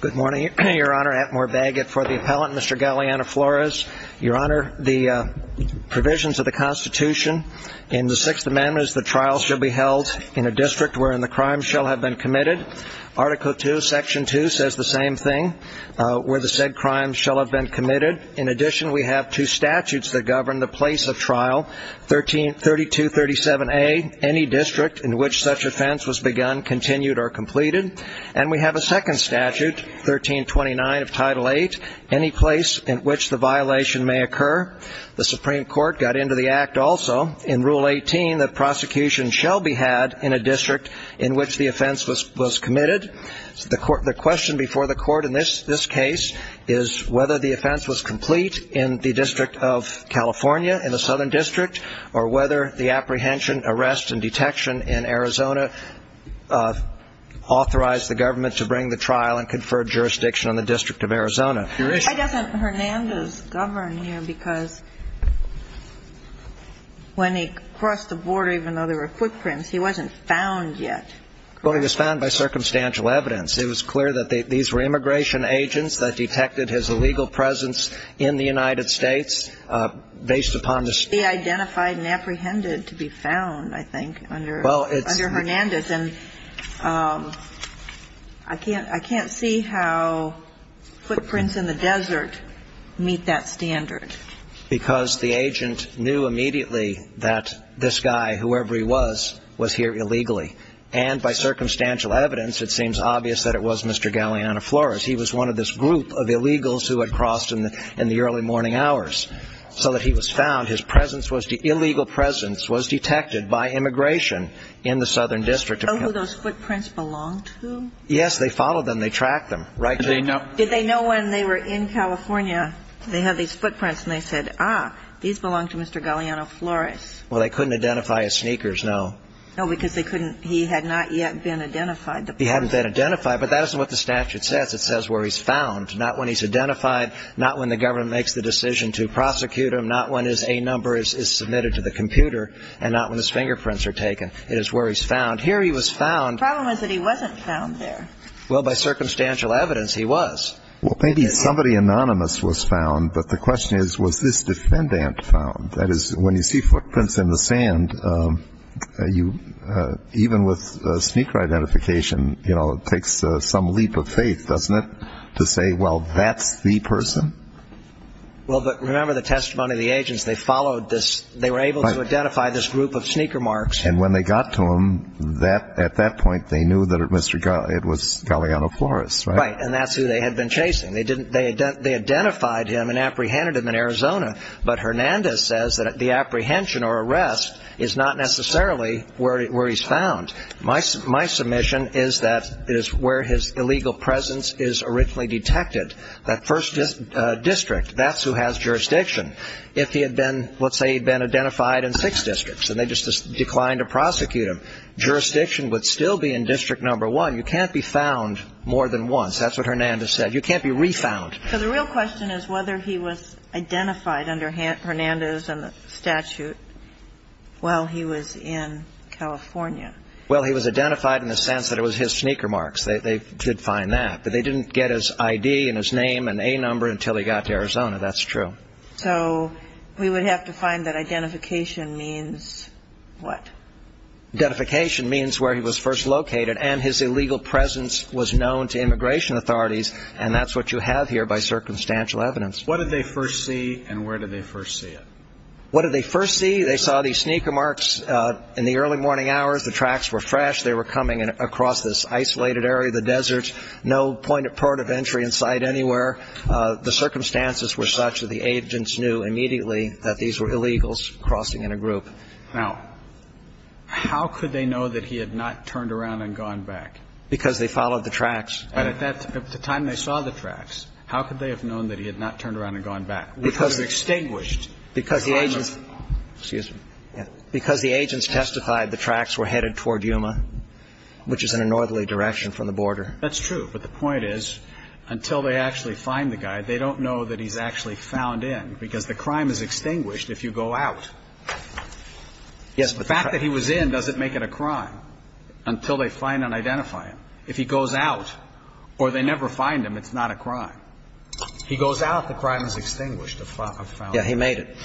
Good morning, Your Honor. Atmore Bagot for the appellant, Mr. Galeana-Flores. Your Honor, the provisions of the Constitution in the Sixth Amendment is the trial shall be held in a district wherein the crime shall have been committed. Article II, Section 2 says the same thing, where the said crime shall have been committed. In addition, we have two statutes that govern the place of trial. 3237A, any district in which such offense was begun, continued, or completed. And we have a second statute, 1329 of Title VIII, any place in which the violation may occur. The Supreme Court got into the Act also, in Rule 18, that prosecution shall be had in a district in which the offense was committed. The question before the Court in this case is whether the offense was complete in the District of California, in the Southern District, or whether the apprehension, arrest, and detection in Arizona authorized the government to bring the trial and confer jurisdiction on the District of Arizona. Why doesn't Hernandez govern here? Because when he crossed the border, even though there were footprints, he wasn't found yet. Well, he was found by circumstantial evidence. It was clear that these were immigration agents that detected his illegal presence in the United States based upon the state. He identified and apprehended to be found, I think, under Hernandez. And I can't see how footprints in the desert meet that standard. Because the agent knew immediately that this guy, whoever he was, was here illegally. And by circumstantial evidence, it seems obvious that it was Mr. Galeana Flores. He was one of this group of illegals who had crossed in the early morning hours. So that he was here illegally. His presence was the illegal presence was detected by immigration in the Southern District. So who those footprints belonged to? Yes, they followed them. They tracked them. Did they know? Did they know when they were in California, they had these footprints, and they said, ah, these belong to Mr. Galeana Flores? Well, they couldn't identify his sneakers, no. No, because they couldn't. He had not yet been identified. He hadn't been identified. But that isn't what the statute says. It says where he's found, not when he's identified, not when the government makes the decision to prosecute him, not when his A number is submitted to the computer, and not when his fingerprints are taken. It is where he's found. Here he was found. The problem is that he wasn't found there. Well, by circumstantial evidence, he was. Well, maybe somebody anonymous was found. But the question is, was this defendant found? That is, when you see footprints in the sand, you, even with sneaker identification, you know, it takes some leap of faith, doesn't it, to say, well, that's the person? Well, but remember the testimony of the agents. They followed this. They were able to identify this group of sneaker marks. And when they got to him, at that point, they knew that it was Galeana Flores, right? Right. And that's who they had been chasing. They identified him and apprehended him in Arizona. But Hernandez says that the apprehension or arrest is not necessarily where he's found. My submission is that it is where his illegal presence is originally detected. That first district, that's who has jurisdiction. If he had been, let's say he'd been identified in six districts and they just declined to prosecute him, jurisdiction would still be in district number one. You can't be found more than once. That's what Hernandez said. You can't be re-found. So the real question is whether he was identified under Hernandez and the statute while he was in California. Well, he was identified in the sense that it was his sneaker marks. They did find that. But they didn't get his ID and his name and A number until he got to Arizona. That's true. So we would have to find that identification means what? Identification means where he was first located and his illegal presence was known to immigration authorities. And that's what you have here by circumstantial evidence. What did they first see and where did they first see it? What did they first see? They saw these sneaker marks in the early morning hours. The tracks were fresh. They were coming across this isolated area of the border. There was no point of entry in sight anywhere. The circumstances were such that the agents knew immediately that these were illegals crossing in a group. Now, how could they know that he had not turned around and gone back? Because they followed the tracks. And at the time they saw the tracks, how could they have known that he had not turned around and gone back? Because the agents testified the tracks were headed toward Yuma, which is in a northerly direction from the border. That's true. But the point is, until they actually find the guy, they don't know that he's actually found in, because the crime is extinguished if you go out. Yes. The fact that he was in doesn't make it a crime until they find and identify him. If he goes out or they never find him, it's not a crime. If he goes out, the crime is extinguished. Yes, he made it.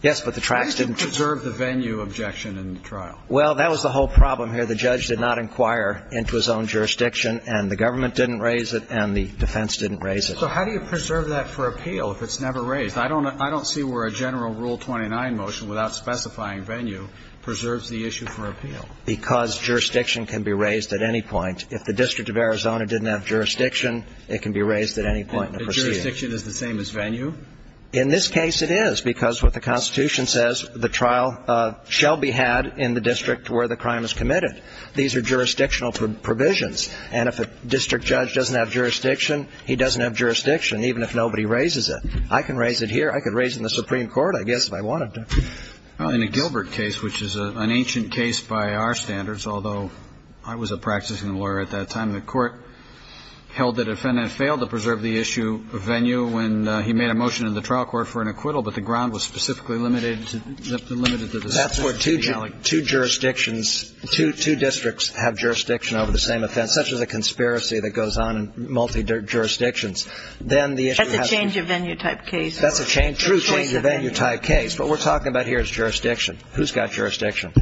Yes, but the tracks didn't reserve the venue objection in the trial. Well, that was the whole problem here. The judge did not inquire into his own jurisdiction, and the government didn't raise it, and the defense didn't raise it. So how do you preserve that for appeal if it's never raised? I don't see where a general Rule 29 motion without specifying venue preserves the issue for appeal. Because jurisdiction can be raised at any point. If the District of Arizona didn't have jurisdiction, it can be raised at any point in the proceeding. And jurisdiction is the same as venue? In this case, it is, because what the Constitution says, the trial shall be had in the district where the crime is committed. These are jurisdictional provisions. And if a district judge doesn't have jurisdiction, he doesn't have jurisdiction, even if nobody raises it. I can raise it here. I could raise it in the Supreme Court, I guess, if I wanted to. Well, in the Gilbert case, which is an ancient case by our standards, although I was a practicing lawyer at that time, the court held the defendant failed to preserve the issue of venue when he made a motion in the trial court for an acquittal, but the ground was specifically limited to the district. That's where two jurisdictions, two districts have jurisdiction over the same offense, such as a conspiracy that goes on in multi-jurisdictions. That's a change-of-venue type case. That's a true change-of-venue type case. What we're talking about here is jurisdiction. Who's got jurisdiction?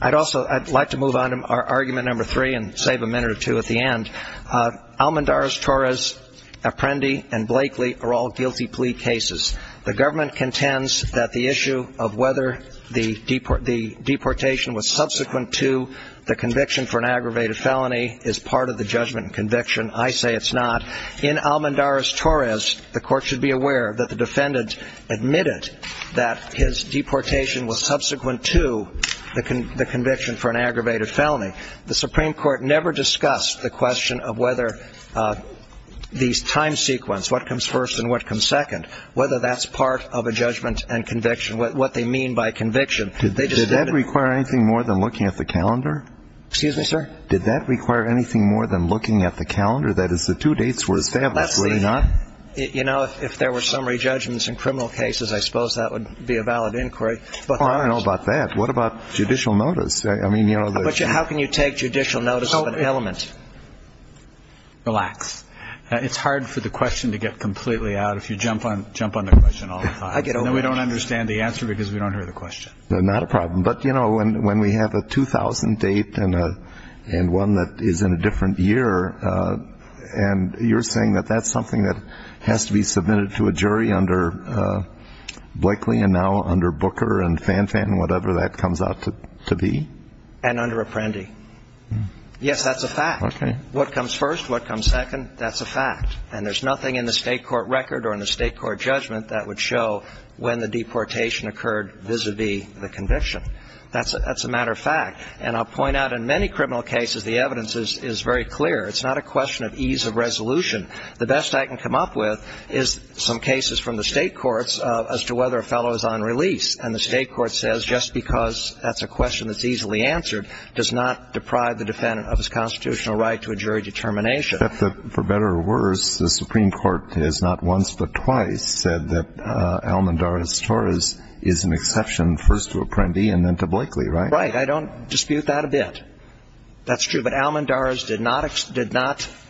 I'd like to move on to argument number three and save a minute or two at the end. Almendarez-Torres, Apprendi, and Blakely are all guilty plea cases. The government contends that the issue of whether the deportation was subsequent to the conviction for an aggravated felony is part of the judgment and conviction. I say it's not. In Almendarez-Torres, the court should be aware that the defendant admitted that his deportation was subsequent to the conviction for an aggravated felony. The Supreme Court never discussed the question of whether these time sequence, what comes first and what comes second, whether that's part of a judgment and conviction, what they mean by conviction. Did that require anything more than looking at the calendar? Excuse me, sir? Did that require anything more than looking at the calendar? That is, the two dates were established, were they not? You know, if there were summary judgments in criminal cases, I suppose that would be a valid inquiry. I don't know about that. What about judicial notice? How can you take judicial notice of an element? Relax. It's hard for the question to get completely out if you jump on the question all the time. I get over it. Then we don't understand the answer because we don't hear the question. Not a problem. But, you know, when we have a 2000 date and one that is in a different year, and you're saying that that's something that has to be submitted to a jury under Blakely and now under Booker and Fanfan and whatever that comes out to be? And under Apprendi. Yes, that's a fact. Okay. So what comes first? What comes second? That's a fact. And there's nothing in the state court record or in the state court judgment that would show when the deportation occurred vis-à-vis the conviction. That's a matter of fact. And I'll point out in many criminal cases the evidence is very clear. It's not a question of ease of resolution. The best I can come up with is some cases from the state courts as to whether a fellow is on release. And the state court says just because that's a question that's easily answered does not deprive the defendant of his constitutional right to a jury determination. Except that, for better or worse, the Supreme Court has not once but twice said that Almendarez-Torres is an exception, first to Apprendi and then to Blakely, right? Right. I don't dispute that a bit. That's true. But Almendarez did not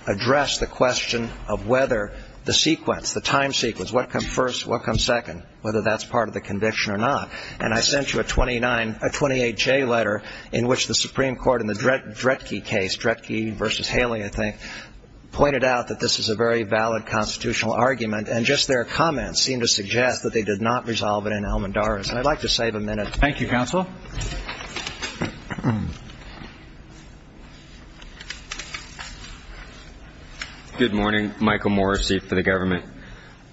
address the question of whether the sequence, the time sequence, what comes first, what comes second, whether that's part of the conviction or not. And I sent you a 28-J letter in which the Supreme Court in the Dretke case, Dretke v. Haley, I think, pointed out that this is a very valid constitutional argument. And just their comments seem to suggest that they did not resolve it in Almendarez. And I'd like to save a minute. Thank you, counsel. Good morning. Michael Morrissey for the government.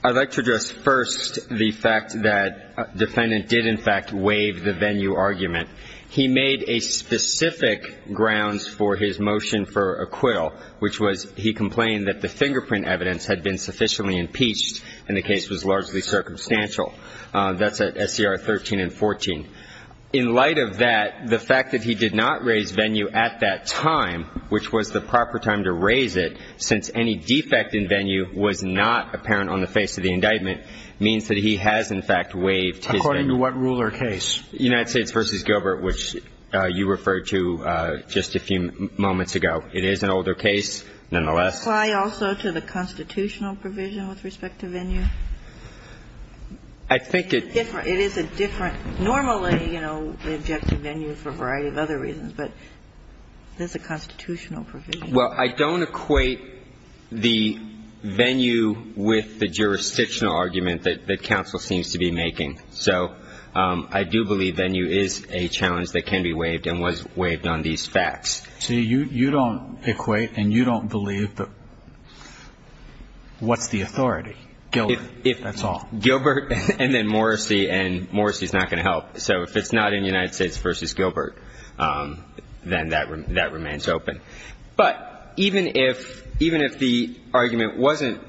I'd like to address first the fact that defendant did in fact waive the venue argument. He made a specific grounds for his motion for acquittal, which was he complained that the fingerprint evidence had been sufficiently impeached and the case was largely circumstantial. That's at SCR 13 and 14. In light of that, the fact that he did not raise venue at that time, which was the proper time to raise it, since any defect in venue was not apparent on the face of the indictment, means that he has in fact waived his venue. According to what rule or case? United States v. Gilbert, which you referred to just a few moments ago. It is an older case, nonetheless. Does it apply also to the constitutional provision with respect to venue? I think it's different. It is a different. Normally, you know, we object to venue for a variety of other reasons. But there's a constitutional provision. Well, I don't equate the venue with the jurisdictional argument that counsel seems to be making. So I do believe venue is a challenge that can be waived and was waived on these facts. So you don't equate and you don't believe what's the authority? Gilbert, that's all. Gilbert and then Morrissey, and Morrissey is not going to help. So if it's not in United States v. Gilbert, then that remains open. But even if the argument wasn't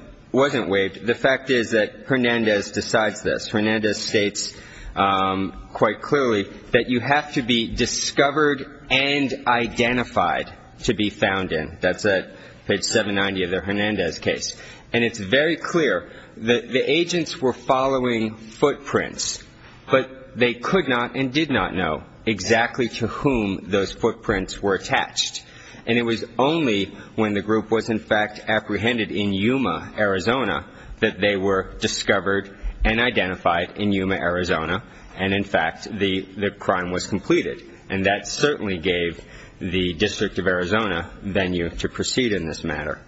waived, the fact is that Hernandez decides this. Hernandez states quite clearly that you have to be discovered and identified to be found in. That's at page 790 of the Hernandez case. And it's very clear that the agents were following footprints, but they could not and did not know exactly to whom those footprints were attached. And it was only when the group was, in fact, apprehended in Yuma, Arizona, that they were discovered and identified in Yuma, Arizona, and, in fact, the crime was completed. And that certainly gave the District of Arizona venue to proceed in this matter.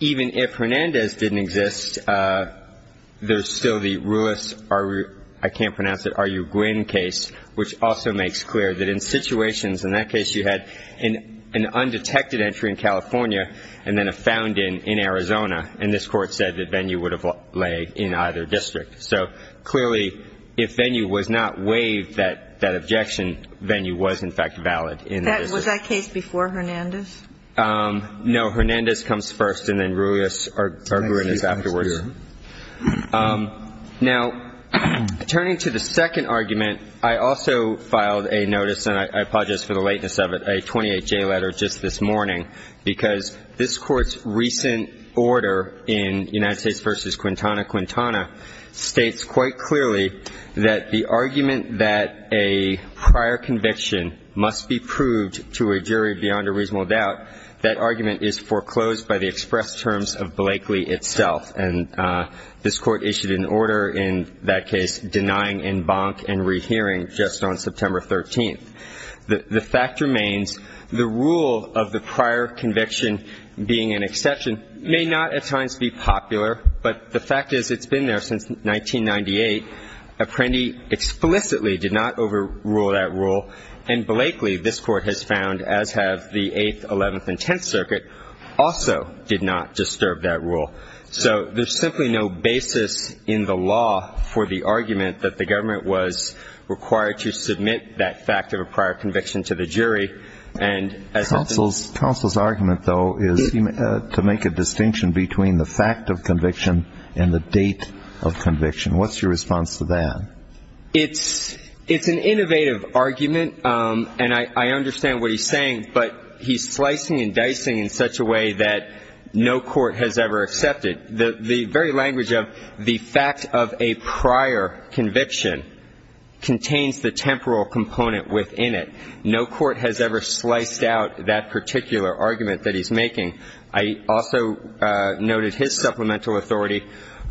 Even if Hernandez didn't exist, there's still the Ruiz, I can't pronounce it, R.U. Guinn case, which also makes clear that in situations, in that case, you had an undetected entry in California and then a found in in Arizona, and this Court said that venue would have laid in either district. So clearly, if venue was not waived, that objection venue was, in fact, valid in the district. Was that case before Hernandez? No. Hernandez comes first and then Ruiz afterwards. Now, turning to the second argument, I also filed a notice, and I apologize for the lateness of it, a 28-J letter just this morning, because this Court's recent order in United States v. Quintana Quintana states quite clearly that the argument that a prior conviction must be proved to a jury beyond a reasonable doubt, that argument is foreclosed by the express terms of Blakeley itself. And this Court issued an order in that case denying en banc and rehearing just on September 13th. The fact remains the rule of the prior conviction being an exception may not at times be popular, but the fact is it's been there since 1998. Apprendi explicitly did not overrule that rule, and Blakeley, this Court has found, as have the Eighth, Eleventh, and Tenth Circuit, also did not disturb that rule. So there's simply no basis in the law for the argument that the government was required to submit that fact of a prior conviction. Counsel's argument, though, is to make a distinction between the fact of conviction and the date of conviction. What's your response to that? It's an innovative argument, and I understand what he's saying, but he's slicing and dicing in such a way that no court has ever accepted. The very language of the fact of a prior conviction contains the temporal component within it. No court has ever sliced out that particular argument that he's making. I also noted his supplemental authority.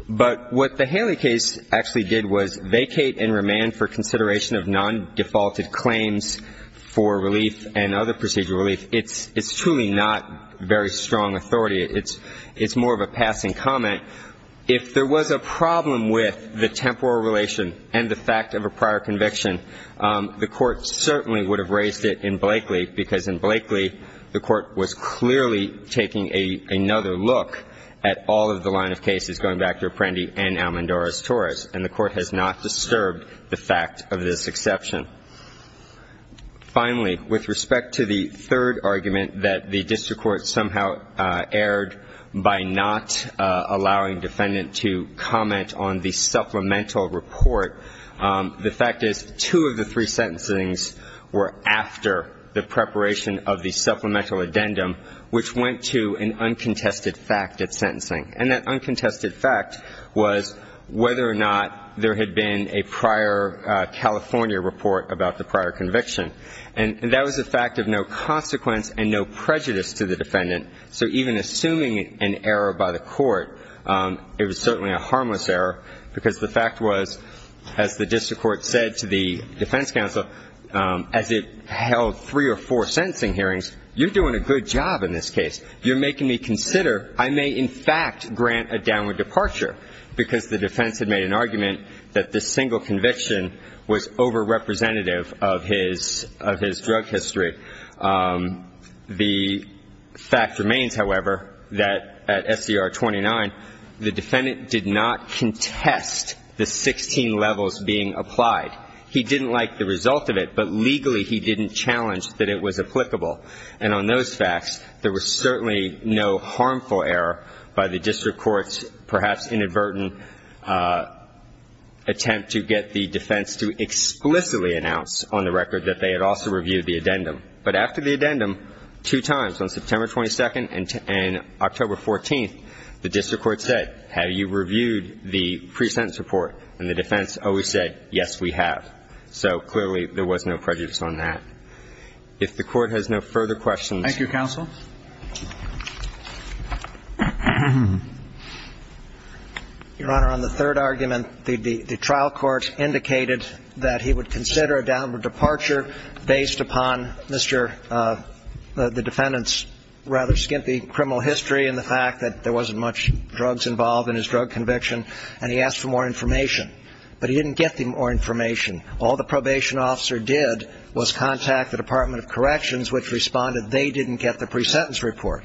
But what the Haley case actually did was vacate and remand for consideration of non-defaulted claims for relief and other procedural relief. It's truly not very strong authority. It's more of a passing comment. If there was a problem with the temporal relation and the fact of a prior conviction, the Court certainly would have raised it in Blakeley, because in Blakeley the Court was clearly taking another look at all of the line of cases, going back to Apprendi and Almendora's Taurus. And the Court has not disturbed the fact of this exception. Finally, with respect to the third argument, that the district court somehow erred by not allowing defendant to comment on the supplemental report, the fact is two of the three sentencings were after the preparation of the supplemental addendum, which went to an uncontested fact at sentencing. And that uncontested fact was whether or not there had been a prior California report about the prior conviction. And that was a fact of no consequence and no prejudice to the defendant. So even assuming an error by the Court, it was certainly a harmless error, because the fact was, as the district court said to the defense counsel, as it held three or four sentencing hearings, you're doing a good job in this case. You're making me consider I may in fact grant a downward departure, because the defense had made an argument that this single conviction was overrepresentative of his drug history. The fact remains, however, that at SCR 29, the defendant did not contest the 16 levels being applied. He didn't like the result of it, but legally he didn't challenge that it was applicable. And on those facts, there was certainly no harmful error by the district court's perhaps inadvertent attempt to get the defense to explicitly announce on the record that they had also reviewed the addendum. But after the addendum, two times, on September 22 and October 14, the district court said, have you reviewed the pre-sentence report? And the defense always said, yes, we have. So clearly there was no prejudice on that. If the Court has no further questions. Thank you, counsel. Your Honor, on the third argument, the trial court indicated that he would consider a downward departure based upon Mr. the defendant's rather skimpy criminal history and the fact that there wasn't much drugs involved in his drug conviction, and he asked for more information. But he didn't get the more information. All the probation officer did was contact the Department of Corrections, which responded they didn't get the pre-sentence report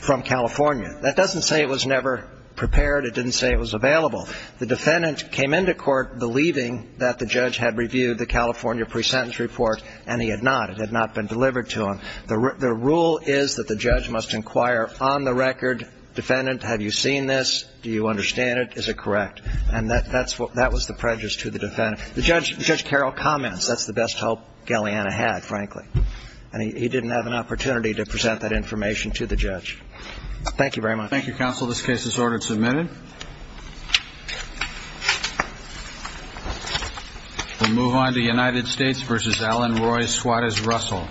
from California. That doesn't say it was never prepared. It didn't say it was available. The defendant came into court believing that the judge had reviewed the California pre-sentence report, and he had not. It had not been delivered to him. The rule is that the judge must inquire on the record, defendant, have you seen this? Do you understand it? Is it correct? And that was the prejudice to the defendant. The judge, Judge Carroll, comments that's the best help Galeana had, frankly, and he didn't have an opportunity to present that information to the judge. Thank you very much. Thank you, counsel. This case is ordered submitted. We move on to United States v. Alan Roy, squad as Russell.